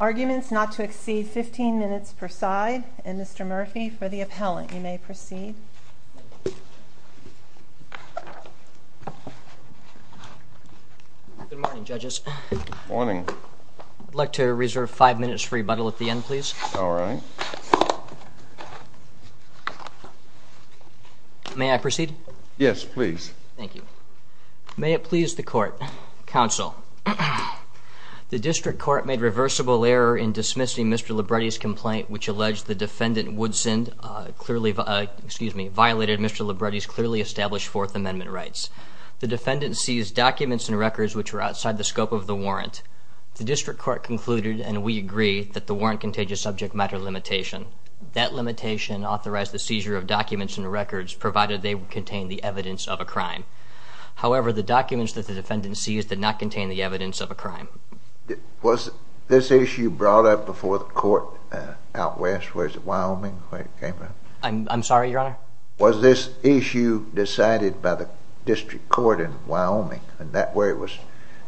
Arguments not to exceed 15 minutes per side. Mr. Murphy, for the appellant, you may proceed. Good morning, judges. Good morning. I'd like to reserve five minutes for rebuttal at the end, please. Good morning, judges. Good morning. May I proceed? Yes, please. Thank you. May it please the court. Counsel, the district court made reversible error in dismissing Mr. Libretti's complaint, which alleged the defendant Woodson clearly violated Mr. Libretti's clearly established Fourth Amendment rights. The defendant seized documents and records which were outside the scope of the warrant. The district court concluded, and we agree, that the warrant contagious subject matter limitation. That limitation authorized the seizure of documents and records, provided they contained the evidence of a crime. However, the documents that the defendant seized did not contain the evidence of a crime. Was this issue brought up before the court out west? Where is it? Wyoming? I'm sorry, Your Honor? Was this issue decided by the district court in Wyoming, and that where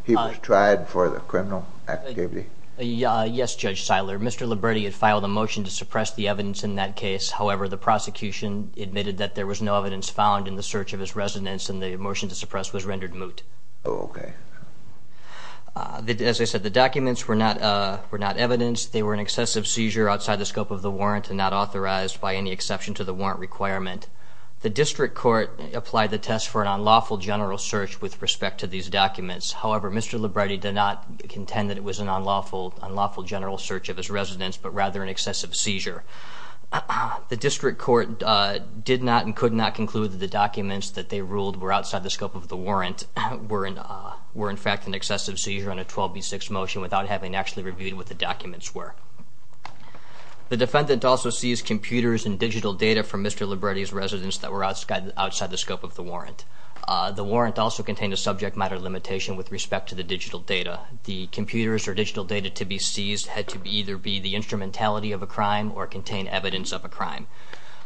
he was tried for the criminal activity? Yes, Judge Seiler. Mr. Libretti had filed a motion to suppress the evidence in that case. However, the prosecution admitted that there was no evidence found in the search of his residence, and the motion to suppress was rendered moot. Oh, okay. As I said, the documents were not evidenced. They were an excessive seizure outside the scope of the warrant and not authorized by any exception to the warrant requirement. The district court applied the test for an unlawful general search with respect to these documents. However, Mr. Libretti did not contend that it was an unlawful general search of his residence, but rather an excessive seizure. The district court did not and could not conclude that the documents that they ruled were outside the scope of the warrant were in fact an excessive seizure on a 12B6 motion without having actually reviewed what the documents were. The defendant also seized computers and digital data from Mr. Libretti's residence that were outside the scope of the warrant. The warrant also contained a subject matter limitation with respect to the digital data. The computers or digital data to be seized had to either be the instrumentality of a crime or contain evidence of a crime.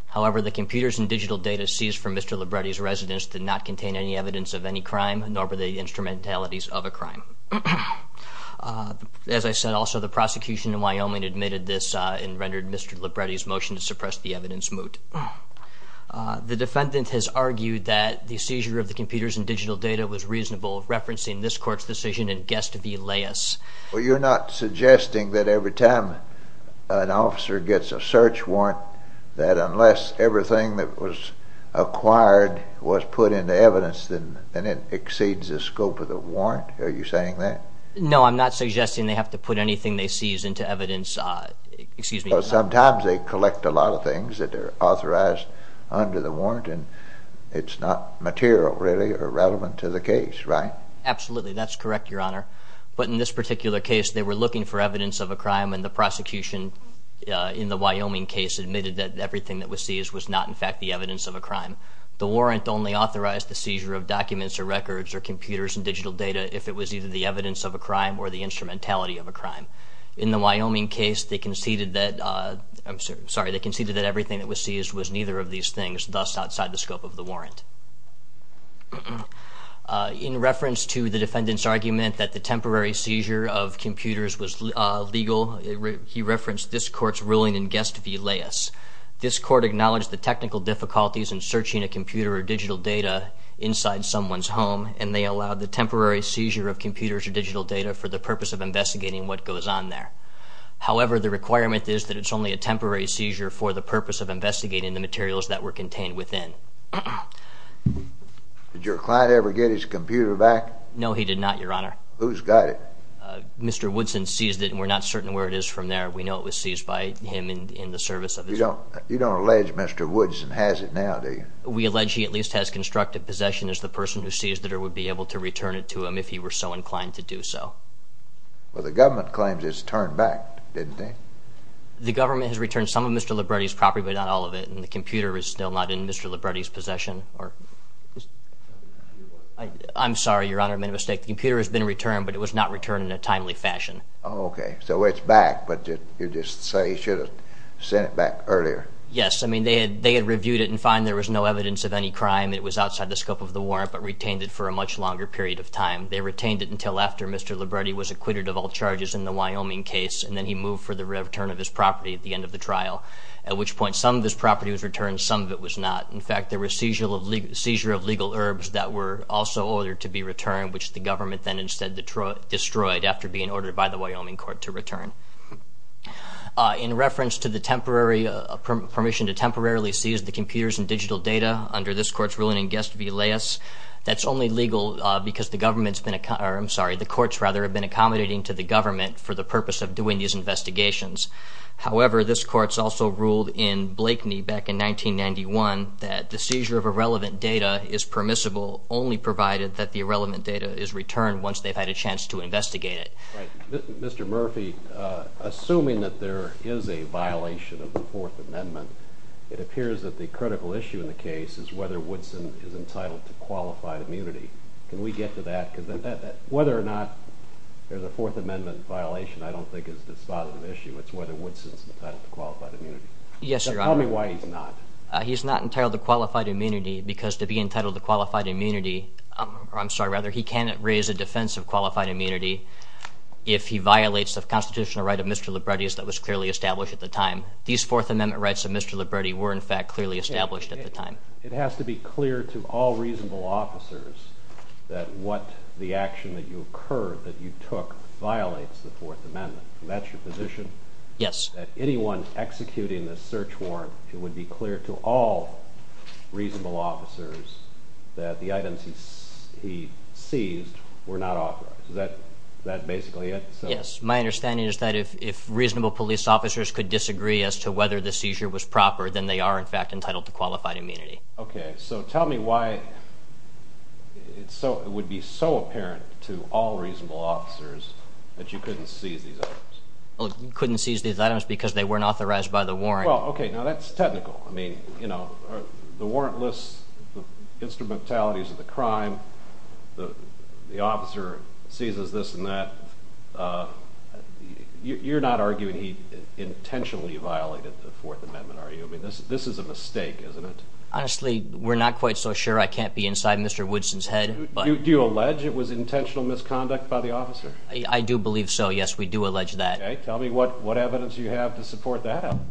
However, the computers and digital data seized from Mr. Libretti's residence did not contain any evidence of any crime, nor were they instrumentalities of a crime. As I said, also the prosecution in Wyoming admitted this and rendered Mr. Libretti's motion to suppress the evidence moot. The defendant has argued that the seizure of the computers and digital data was reasonable, referencing this court's decision in Guest v. Laius. Well, you're not suggesting that every time an officer gets a search warrant that unless everything that was acquired was put into evidence then it exceeds the scope of the warrant? Are you saying that? No, I'm not suggesting they have to put anything they seize into evidence. Sometimes they collect a lot of things that are authorized under the warrant and it's not material really or relevant to the case, right? Absolutely, that's correct, Your Honor. But in this particular case they were looking for evidence of a crime and the prosecution in the Wyoming case admitted that everything that was seized was not in fact the evidence of a crime. The warrant only authorized the seizure of documents or records or computers and digital data if it was either the evidence of a crime or the instrumentality of a crime. In the Wyoming case they conceded that everything that was seized was neither of these things, thus outside the scope of the warrant. In reference to the defendant's argument that the temporary seizure of computers was legal, he referenced this court's ruling in Guest v. Laius. This court acknowledged the technical difficulties in searching a computer or digital data inside someone's home and they allowed the temporary seizure of computers or digital data for the purpose of investigating what goes on there. However, the requirement is that it's only a temporary seizure for the purpose of investigating the materials that were contained within. Did your client ever get his computer back? No, he did not, Your Honor. Who's got it? Mr. Woodson seized it and we're not certain where it is from there. We know it was seized by him in the service of his... You don't allege Mr. Woodson has it now, do you? We allege he at least has constructive possession as the person who seized it or would be able to return it to him if he were so inclined to do so. Well, the government claims it's turned back, didn't they? The government has returned some of Mr. Libretti's property, but not all of it, and the computer is still not in Mr. Libretti's possession. I'm sorry, Your Honor, I made a mistake. The computer has been returned, but it was not returned in a timely fashion. Oh, okay. So it's back, but you just say he should have sent it back earlier. Yes. I mean, they had reviewed it and found there was no evidence of any crime. It was outside the scope of the warrant, but retained it for a much longer period of time. They retained it until after Mr. Libretti was acquitted of all charges in the Wyoming case, and then he moved for the return of his property at the end of the trial, at which point some of this property was returned, some of it was not. In fact, there was seizure of legal herbs that were also ordered to be returned, which the government then instead destroyed In reference to the permission to temporarily seize the computers and digital data, under this Court's ruling in guest v. Laius, that's only legal because the courts have been accommodating to the government for the purpose of doing these investigations. However, this Court's also ruled in Blakeney back in 1991 that the seizure of irrelevant data is permissible, only provided that the irrelevant data is returned once they've had a chance to investigate it. Right. Mr. Murphy, assuming that there is a violation of the Fourth Amendment, it appears that the critical issue in the case is whether Woodson is entitled to qualified immunity. Can we get to that? Because whether or not there's a Fourth Amendment violation I don't think is a dispositive issue. It's whether Woodson's entitled to qualified immunity. Yes, Your Honor. Tell me why he's not. He's not entitled to qualified immunity because to be entitled to qualified immunity, or I'm sorry, rather, he cannot raise a defense of qualified immunity if he violates the constitutional right of Mr. Liberti that was clearly established at the time. These Fourth Amendment rights of Mr. Liberti were, in fact, clearly established at the time. It has to be clear to all reasonable officers that what the action that you occurred, that you took, violates the Fourth Amendment. That's your position? Yes. That anyone executing this search warrant, it would be clear to all reasonable officers that the items he seized were not authorized. Is that basically it? Yes. My understanding is that if reasonable police officers could disagree as to whether the seizure was proper, then they are, in fact, entitled to qualified immunity. Okay. So tell me why it would be so apparent to all reasonable officers that you couldn't seize these items. Couldn't seize these items because they weren't authorized by the warrant. Well, okay, now that's technical. I mean, you know, the warrant lists the instrumentalities of the crime. The officer seizes this and that. You're not arguing he intentionally violated the Fourth Amendment, are you? I mean, this is a mistake, isn't it? Honestly, we're not quite so sure. I can't be inside Mr. Woodson's head. Do you allege it was intentional misconduct by the officer? I do believe so. Yes, we do allege that. Okay. Tell me what evidence you have to support that allegation.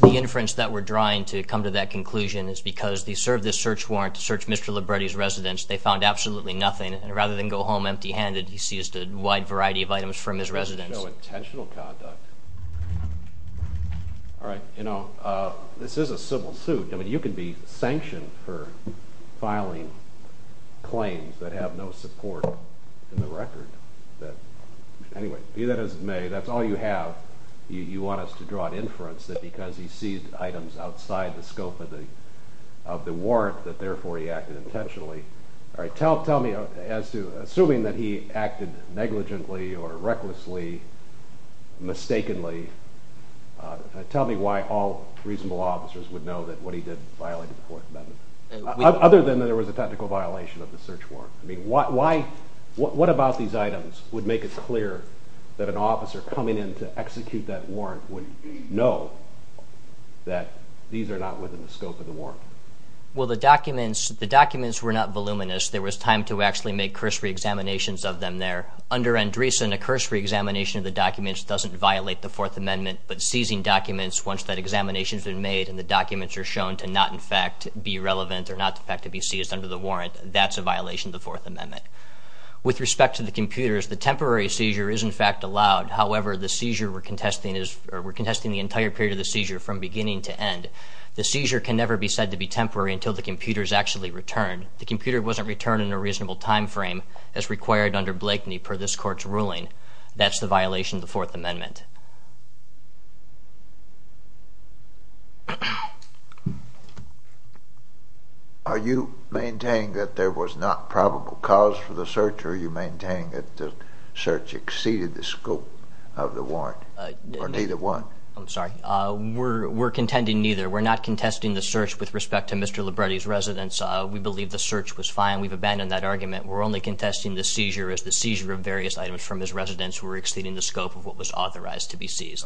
The inference that we're drawing to come to that conclusion is because they served this search warrant to search Mr. Libretti's residence. They found absolutely nothing, and rather than go home empty-handed, he seized a wide variety of items from his residence. This doesn't show intentional conduct. All right. You know, this is a civil suit. I mean, you can be sanctioned for filing claims that have no support in the record. Anyway, be that as it may, that's all you have. You want us to draw an inference that because he seized items outside the scope of the warrant that therefore he acted intentionally. All right. Tell me, assuming that he acted negligently or recklessly, mistakenly, tell me why all reasonable officers would know that what he did violated the Fourth Amendment, other than that there was a technical violation of the search warrant. I mean, what about these items would make it clear that an officer coming in to execute that warrant would know that these are not within the scope of the warrant? Well, the documents were not voluminous. There was time to actually make cursory examinations of them there. Under Andreessen, a cursory examination of the documents doesn't violate the Fourth Amendment, but seizing documents once that examination has been made and the documents are shown to not in fact be relevant or not in fact to be seized under the warrant, that's a violation of the Fourth Amendment. With respect to the computers, the temporary seizure is in fact allowed. However, the seizure we're contesting is, we're contesting the entire period of the seizure from beginning to end. The seizure can never be said to be temporary until the computer is actually returned. The computer wasn't returned in a reasonable time frame as required under Blakeney per this court's ruling. That's the violation of the Fourth Amendment. Are you maintaining that there was not probable cause for the search, or are you maintaining that the search exceeded the scope of the warrant, or neither one? I'm sorry. We're contending neither. We're not contesting the search with respect to Mr. Libretti's residence. The search was fine. We've abandoned that argument. We're only contesting the seizure as the seizure of various items from his residence were exceeding the scope of what was authorized to be seized.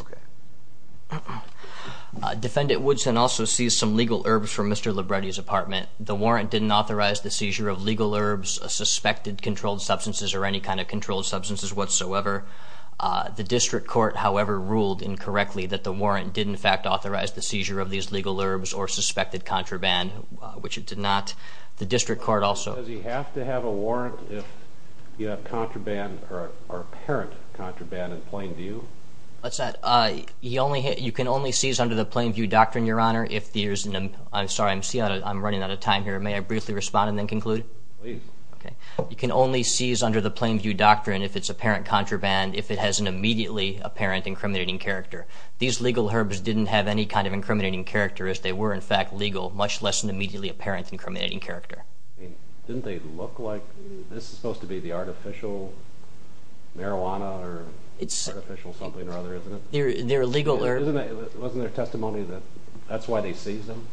Defendant Woodson also seized some legal herbs from Mr. Libretti's apartment. The warrant didn't authorize the seizure of legal herbs, suspected controlled substances, or any kind of controlled substances whatsoever. The district court, however, ruled incorrectly that the warrant did in fact authorize the seizure of these legal herbs or suspected contraband, which it did not. Does he have to have a warrant if you have contraband or apparent contraband in plain view? You can only seize under the plain view doctrine, Your Honor, if there's an... I'm sorry. I'm running out of time here. May I briefly respond and then conclude? Please. You can only seize under the plain view doctrine if it's apparent contraband, if it has an immediately apparent incriminating character. These legal herbs didn't have any kind of incriminating character. They were in fact legal, much less an immediately apparent incriminating character. Didn't they look like... This is supposed to be the artificial marijuana or artificial something or other, isn't it? They're legal herbs. Wasn't there testimony that that's why they seized them?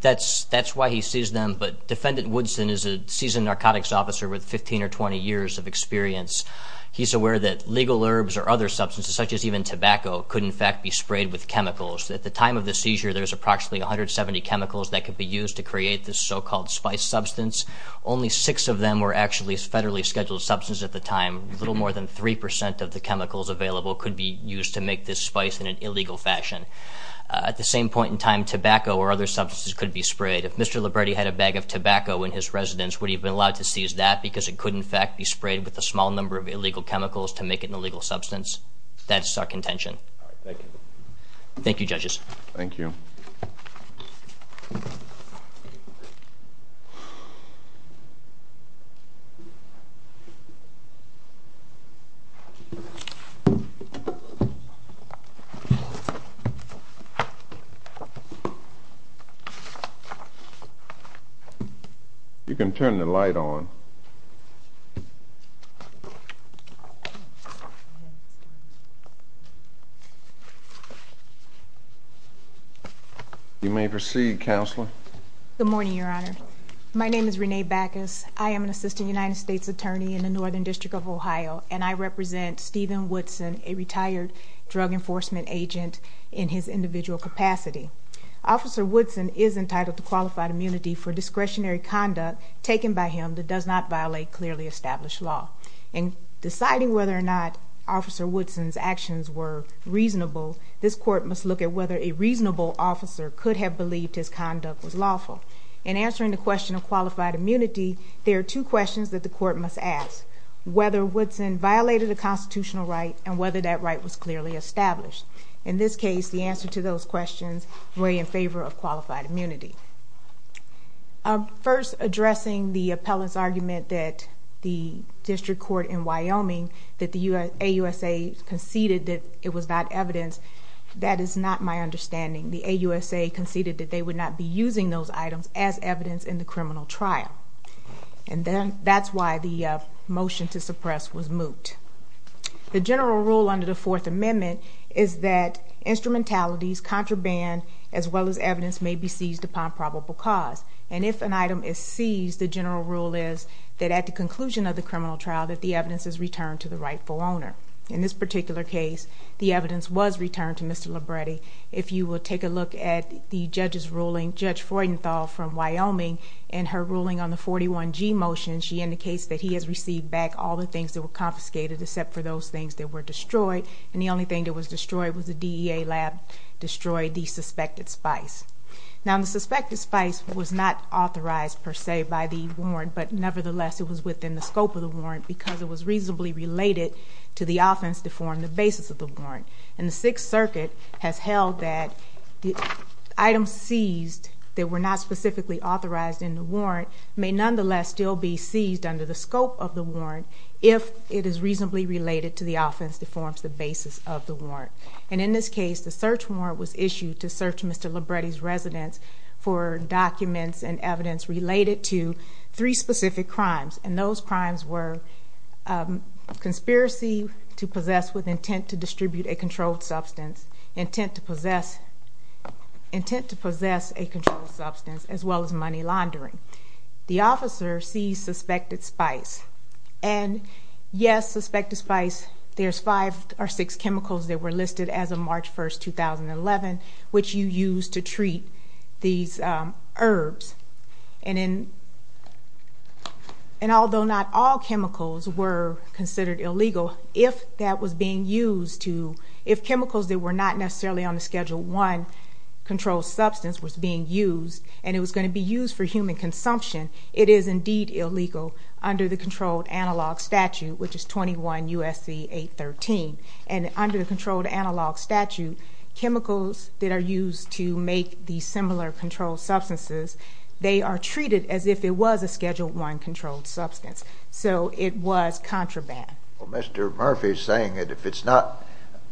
That's why he seized them, but Defendant Woodson is a seasoned narcotics officer with 15 or 20 years of experience. He's aware that legal herbs or other substances, such as even tobacco, could in fact be sprayed with chemicals. At the time of the seizure, there's approximately 170 chemicals that could be used to create this so-called spice substance. Only six of them were actually federally scheduled substances at the time. A little more than 3% of the chemicals available could be used to make this spice in an illegal fashion. At the same point in time, tobacco or other substances could be sprayed. If Mr. Liberti had a bag of tobacco in his residence, would he have been allowed to seize that? Because it could in fact be sprayed with a small number of illegal chemicals to make it an illegal substance. That's our contention. Thank you. Thank you, Judges. You can turn the light on. You may proceed, Counselor. Good morning, Your Honor. My name is Renee Backus. I am an Assistant United States Attorney in the Northern District of Ohio, and I represent Stephen Woodson, a retired drug enforcement agent, in his individual capacity. Officer Woodson is entitled to qualified immunity for discretionary conduct taken by him that does not violate clearly established law. In deciding whether or not Officer Woodson's actions were reasonable, this Court must look at whether a reasonable officer could have believed his conduct was lawful. In answering the question of qualified immunity, there are two questions that the Court must ask. Whether Woodson violated a constitutional right, and whether that right was clearly established. In this case, the answers to those questions were in favor of qualified immunity. First, addressing the appellant's argument that the District Court in Wyoming, that the AUSA conceded that it was not evidence, that is not my understanding. The AUSA conceded that they would not be using those items as evidence in the criminal trial. And that's why the motion to suppress was moot. The general rule under the Fourth Amendment is that instrumentalities, contraband, as well as evidence may be seized upon probable cause. And if an item is seized, the general rule is that at the conclusion of the criminal trial, that the evidence is returned to the rightful owner. In this particular case, the evidence was returned to Mr. Labretti. If you will take a look at the judge's ruling, Judge Freudenthal from Wyoming, in her ruling on the 41G motion, she indicates that he has received back all the things that were confiscated, except for those things that were destroyed. And the only thing that was destroyed was the DEA lab destroyed the suspected spice. Now, the suspected spice was not authorized per se by the warrant, but nevertheless, it was within the scope of the warrant, because it was reasonably related to the offense to form the basis of the warrant. And the Sixth Circuit has held that the items seized that were not specifically authorized in the warrant may nonetheless still be seized under the scope of the warrant if it is reasonably related to the offense that forms the basis of the warrant. And in this case, the search warrant was issued to search Mr. Labretti's residence for documents and evidence related to three specific crimes. And those crimes were conspiracy to possess with intent to distribute a controlled substance, intent to possess a controlled substance, as well as money laundering. The officer seized suspected spice. And yes, suspected spice, there's five or six chemicals that were listed as of March 1st, 2011, which you use to treat these herbs. And although not all chemicals were considered illegal, if that was being used to, if chemicals that were not necessarily on the Schedule 1 controlled substance was being used, and it was going to be used for human consumption, it is indeed illegal under the Controlled Analog Statute, which is 21 U.S.C. 813. And under the Controlled Analog Statute, chemicals that are used to make these similar controlled substances, they are treated as if it was a Schedule 1 controlled substance. So it was contraband. Well, Mr. Murphy is saying that if it's not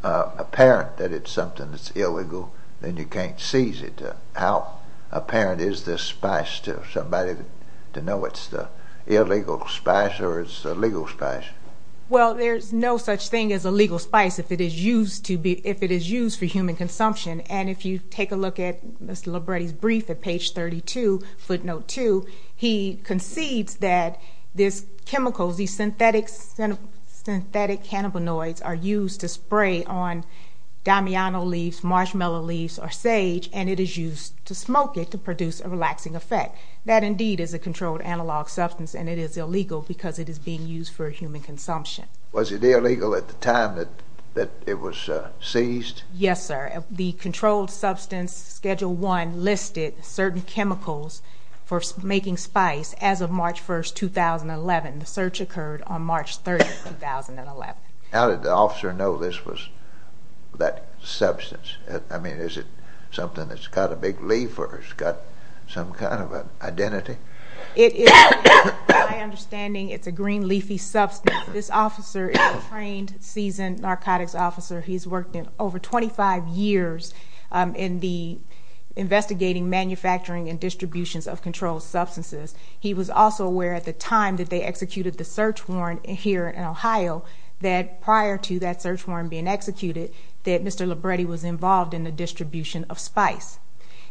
apparent that it's something that's illegal, then you can't seize it. How apparent is this spice to somebody to know it's the illegal spice or it's the legal spice? Well, there's no such thing as a legal spice if it is used to be, if it is used for human consumption. And if you take a look at Mr. Libretti's brief at page 32, footnote 2, he concedes that these chemicals, these synthetic cannabinoids are used to spray on Damiano leaves, marshmallow leaves, or sage, and then used to smoke it to produce a relaxing effect. That indeed is a controlled analog substance, and it is illegal because it is being used for human consumption. Was it illegal at the time that it was seized? Yes, sir. The Controlled Substance Schedule 1 listed certain chemicals for making spice as of March 1, 2011. The search occurred on March 30, 2011. How did the officer know this was that substance? I mean, is it something that's got a big leaf or it's got some kind of an identity? It is, my understanding, it's a green leafy substance. This officer is a trained, seasoned narcotics officer. He's worked over 25 years in the investigating, manufacturing, and distributions of controlled substances. He was also aware at the time that they executed the search warrant here in Ohio that prior to that search warrant being executed, that Mr. Libretti was involved in the distribution of spice.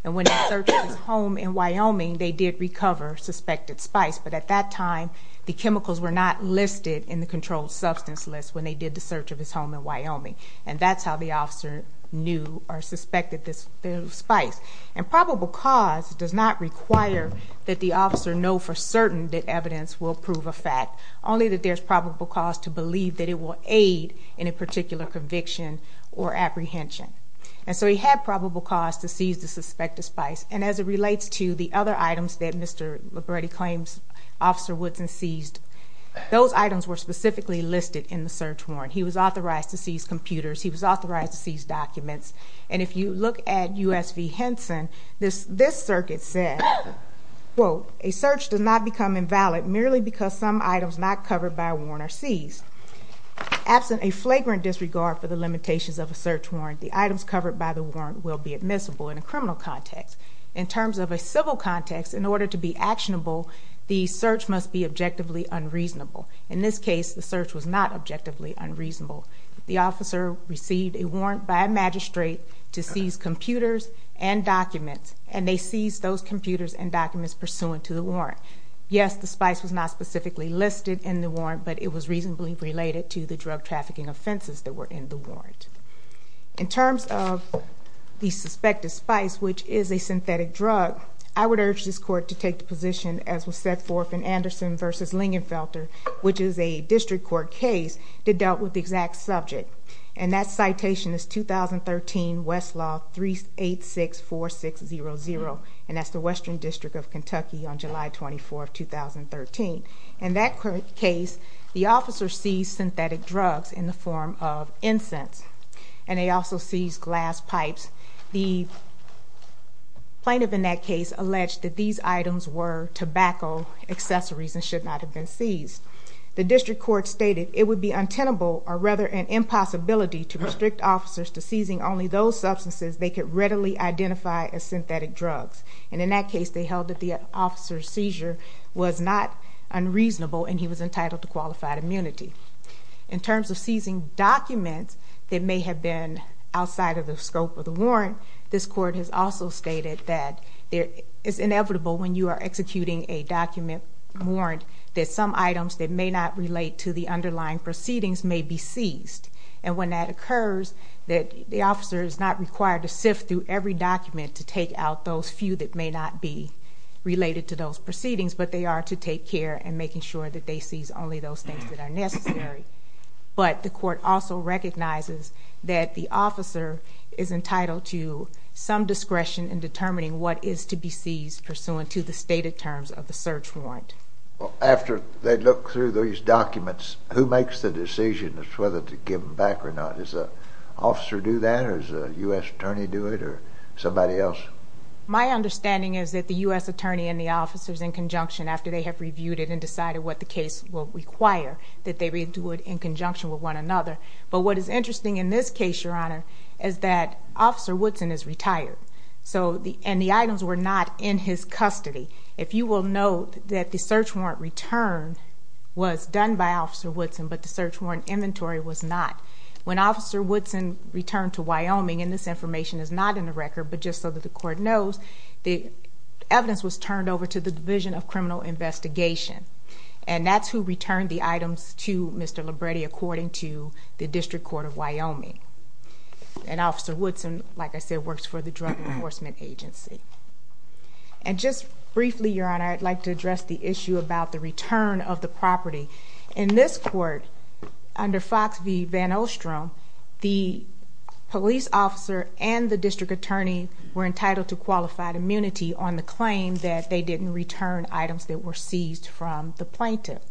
And when they searched his home in Wyoming, they did recover suspected spice, but at that time, the chemicals were not listed in the controlled substance list when they did the search of his home in Wyoming. And that's how the officer knew or suspected the spice. And probable cause does not require that the officer know for certain that evidence will prove a fact, only that there's probable cause to believe that it will aid in a particular conviction or apprehension. And so he had probable cause to seize the suspected spice. And as it relates to the other items that Mr. Libretti claims Officer Woodson seized, those items were specifically listed in the search warrant. He was authorized to seize computers. He was authorized to seize documents. And if you look at U.S. v. Henson, this circuit said, quote, a search does not become invalid merely because some items not covered by a warrant are seized. Absent a flagrant disregard for the limitations of a search warrant, the items covered by the warrant will be admissible in a criminal context. In terms of a civil context, in order to be actionable, the search must be objectively unreasonable. In this case, the search was not objectively unreasonable. The officer received a warrant by a magistrate to seize computers and documents, and they seized those computers and documents pursuant to the warrant. Yes, the spice was not specifically listed in the warrant, but it was reasonably related to the drug trafficking offenses that were in the warrant. In terms of the suspected spice, which is a synthetic drug, I would urge this court to take the position, as was set forth in Anderson v. Lingenfelter, which is a district court case that dealt with the exact subject. And that citation is 2013 Westlaw 386-4600, and that's the Western District of Kentucky on July 24, 2013. In that case, the officer seized synthetic drugs in the form of incense, and they also seized glass pipes. The plaintiff in that case alleged that these items were tobacco accessories and should not have been seized. The district court stated, it would be untenable, or rather an impossibility, to restrict officers to seizing only those substances they could readily identify as synthetic drugs. And in that case, they held that the officer's seizure was not unreasonable, and he was entitled to qualified immunity. In terms of seizing documents that may have been outside of the scope of the warrant, this court has also stated that it is inevitable when you are executing a document warrant that some items that may not relate to the underlying proceedings may be seized. And when that occurs, the officer is not required to sift through every document to take out those few that may not be related to those proceedings, but they are to take care in making sure that they seize only those things that are necessary. But the court also recognizes that the officer is entitled to some discretion in determining what is to be seized pursuant to the stated terms of the search warrant. Well, after they look through these documents, who makes the decision as to whether to give them back or not? Does the officer do that, or does the U.S. attorney do it, or somebody else? My understanding is that the U.S. attorney and the officer is in conjunction after they have reviewed it and decided what the case will require, that they do it in conjunction with one another. But what is interesting in this case, Your Honor, is that Officer Woodson is retired, and the items were not in his custody. If you will note that the search warrant return was done by Officer Woodson, but the search warrant inventory was not. When Officer Woodson returned to Wyoming, and this information is not in the record, the evidence was turned over to the Division of Criminal Investigation. And that's who returned the items to Mr. Libretti, according to the District Court of Wyoming. And Officer Woodson, like I said, works for the Drug Enforcement Agency. And just briefly, Your Honor, I'd like to address the issue about the return of the property. In this court, under Fox v. VanOstrom, the police officer and the district attorney were entitled to qualified immunity on the claim that they didn't return items that were seized from the plaintiff.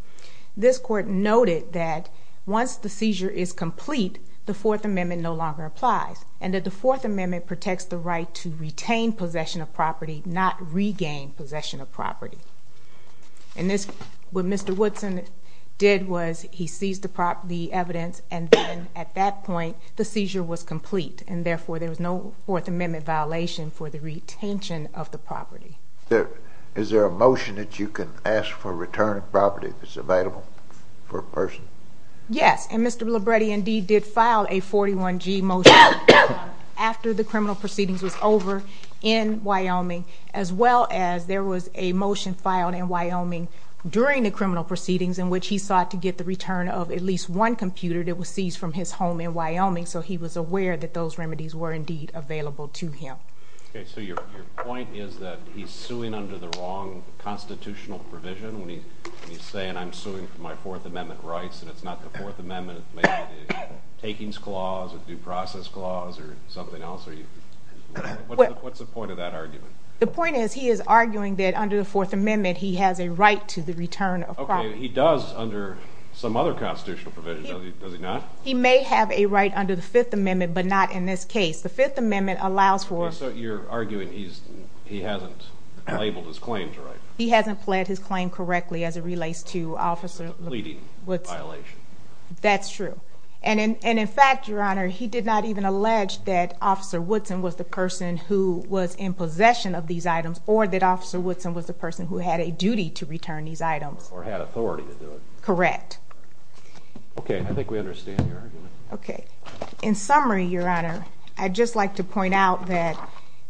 This court noted that once the seizure is complete, the Fourth Amendment no longer applies, and that the Fourth Amendment protects the right to retain possession of property, not regain possession of property. And this, what Mr. Woodson did was, he seized the evidence, and then at that point, the seizure was complete. And therefore, there was no Fourth Amendment violation for the retention of the property. Is there a motion that you can ask for a return of property that's available for a person? Yes, and Mr. Libretti indeed did file a 41-G motion after the criminal proceedings was over in Wyoming, as well as there was a motion filed in Wyoming during the criminal proceedings in which he sought to get the return of at least one computer that was seized from his home in Wyoming, so he was aware that those remedies were not available to him. Okay, so your point is that he's suing under the wrong constitutional provision when he's saying, I'm suing for my Fourth Amendment rights, and it's not the Fourth Amendment, it may be the Takings Clause or the Due Process Clause or something else? What's the point of that argument? The point is, he is arguing that under the Fourth Amendment, he has a right to the return of property. Okay, he does under some other constitutional provision, does he not? He may have a right under the Fifth Amendment, but you're arguing he hasn't labeled his claims right. He hasn't pled his claim correctly as it relates to Officer Woodson. It's a pleading violation. That's true. And in fact, Your Honor, he did not even allege that Officer Woodson was the person who was in possession of these items or that Officer Woodson was the person who had a duty to return these items. Or had authority to do it. Correct. Okay, I think we understand your argument.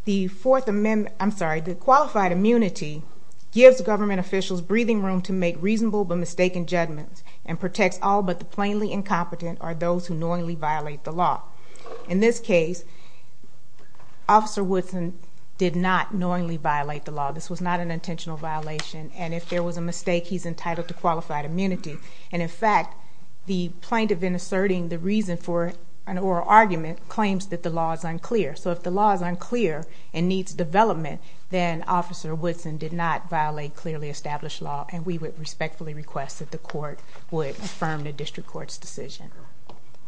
The Fourth Amendment, I'm sorry, the Qualified Immunity gives government officials breathing room to make reasonable but mistaken judgments and protects all but the plainly incompetent or those who knowingly violate the law. In this case, Officer Woodson did not knowingly violate the law. This was not an intentional violation. And if there was a mistake, he's entitled to Qualified Immunity. And in fact, the plaintiff in asserting the reason for an oral argument claims that the law is unclear. And needs development. Then Officer Woodson did not violate clearly established law. And we would respectfully request that the court would affirm the District Court's decision.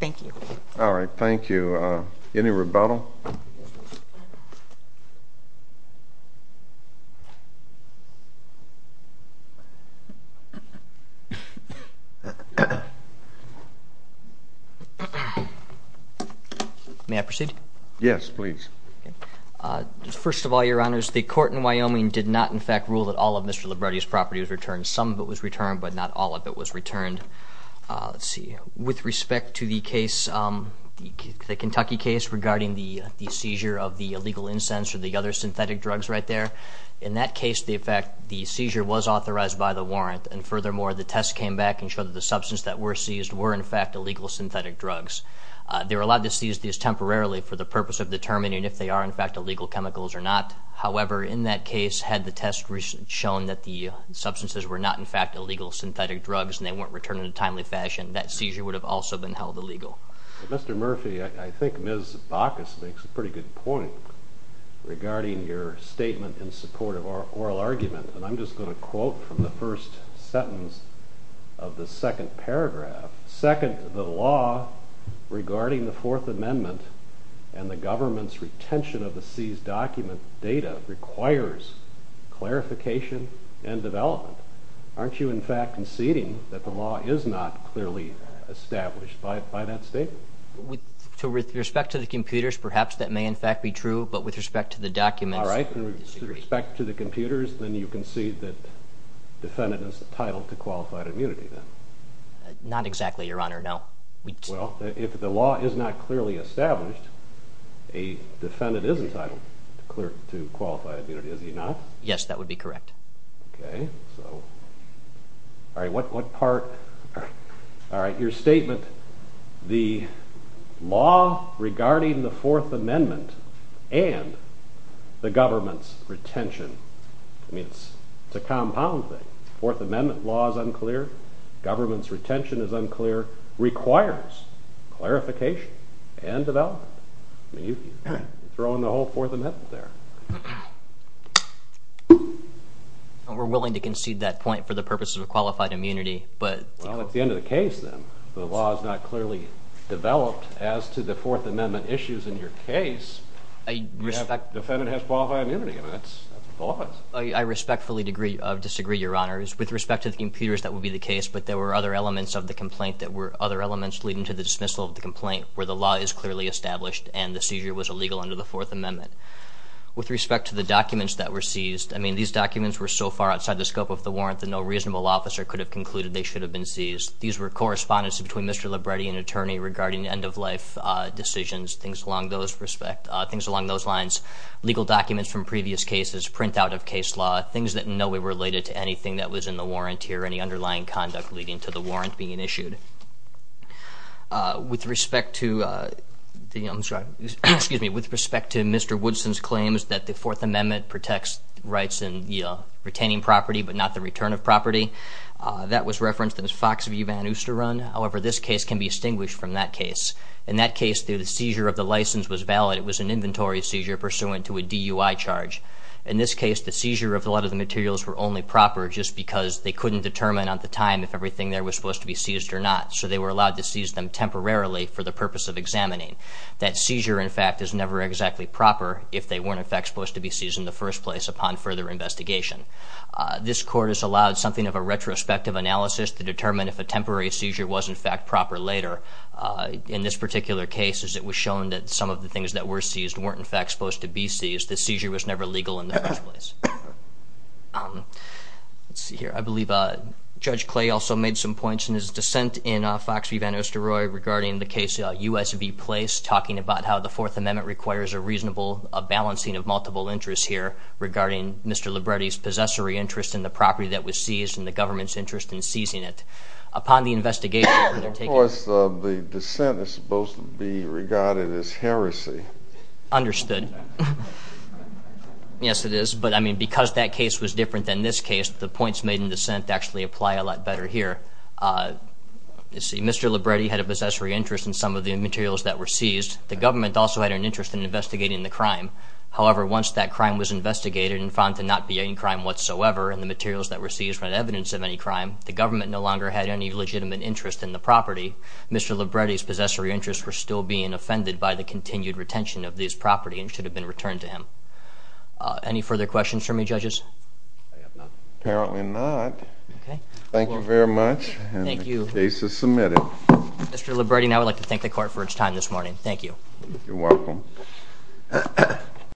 Thank you. All right, thank you. Any rebuttal? May I proceed? First of all, Your Honors, the court in Wyoming did not, in fact, rule that all of Mr. Libretti's property was returned. Some of it was returned, but not all of it was returned. Let's see. With respect to the case, the Kentucky case regarding the seizure of the illegal incense or the other synthetic drugs right there, in that case, in fact, the seizure was authorized by the warrant. And furthermore, the test came back and showed that the substance that were seized were in fact illegal synthetic drugs. Illegals are not. However, in that case, had the test shown that the substances were not in fact illegal synthetic drugs and they weren't returned in a timely fashion, that seizure would have also been held illegal. Mr. Murphy, I think Ms. Bacchus makes a pretty good point regarding your statement in support of oral argument. And I'm just going to quote from the first sentence of the second paragraph. Second, the law regarding the Fourth Amendment and the government's retention of document data requires clarification and development. Aren't you in fact conceding that the law is not clearly established by that statement? With respect to the computers, perhaps that may in fact be true, but with respect to the documents, I disagree. All right. With respect to the computers, then you concede that defendant is entitled to qualified immunity then? Not exactly, Your Honor. No. Well, if the law is not clearly established, a defendant is entitled to qualified immunity. Is he not? Yes, that would be correct. Okay. All right. Your statement, the law regarding the Fourth Amendment and the government's retention, I mean, it's a compound thing. Fourth Amendment law is unclear. Government's retention is unclear. Requires clarification and development. I mean, you're throwing the whole Fourth Amendment there. We're willing to concede that point for the purposes of qualified immunity. Well, at the end of the case, then, the law is not clearly developed as to the Fourth Amendment issues in your case. Defendant has qualified immunity. I respectfully disagree, Your Honors. With respect to the computers, that would be the case, but there were other elements of the complaint that were other elements leading to the dismissal of the complaint where the law is clearly established and the seizure was illegal under the Fourth Amendment. With respect to the documents that were seized, I mean, these documents were so far outside the scope of the warrant that no reasonable officer could have concluded they should have been seized. These were correspondence between Mr. Libretti and an attorney regarding end-of-life decisions, things along those lines, legal documents from previous cases, printout of case law, everything that was being issued. With respect to the... I'm sorry. Excuse me. With respect to Mr. Woodson's claims that the Fourth Amendment protects rights in retaining property but not the return of property, that was referenced in the Fox v. Van Ooster Run. However, this case can be distinguished from that case. In that case, the seizure of the license was valid. It was an inventory seizure pursuant to a DUI charge. In this case, the seizure was not determined whether the property was seized or not, so they were allowed to seize them temporarily for the purpose of examining. That seizure, in fact, is never exactly proper if they weren't, in fact, supposed to be seized in the first place upon further investigation. This court has allowed something of a retrospective analysis to determine if a temporary seizure was, in fact, proper later. In this particular case, it was shown that some of the things that were discussed were not true. The dissent in Fox v. Van Ooster Run regarding the case U.S. v. Place talking about how the Fourth Amendment requires a reasonable balancing of multiple interests here regarding Mr. Libretti's possessory interest in the property that was seized and the government's interest in seizing it. Upon the investigation... Of course, the dissent is supposed to be regarded as heresy. Understood. Yes, it is. But, I mean, because that case was different than this case, the points made in dissent actually apply a lot better here. You see, Mr. Libretti had a possessory interest in some of the materials that were seized. The government also had an interest in investigating the crime. However, once that crime was investigated and found to not be a crime whatsoever and the materials that were seized were evidence of any crime, the government no longer had any legitimate interest in the property. Mr. Libretti's possessory interests were still being offended by the continued retention of this property and should have been returned to him. Any further questions for me, judges? Apparently not. Thank you very much.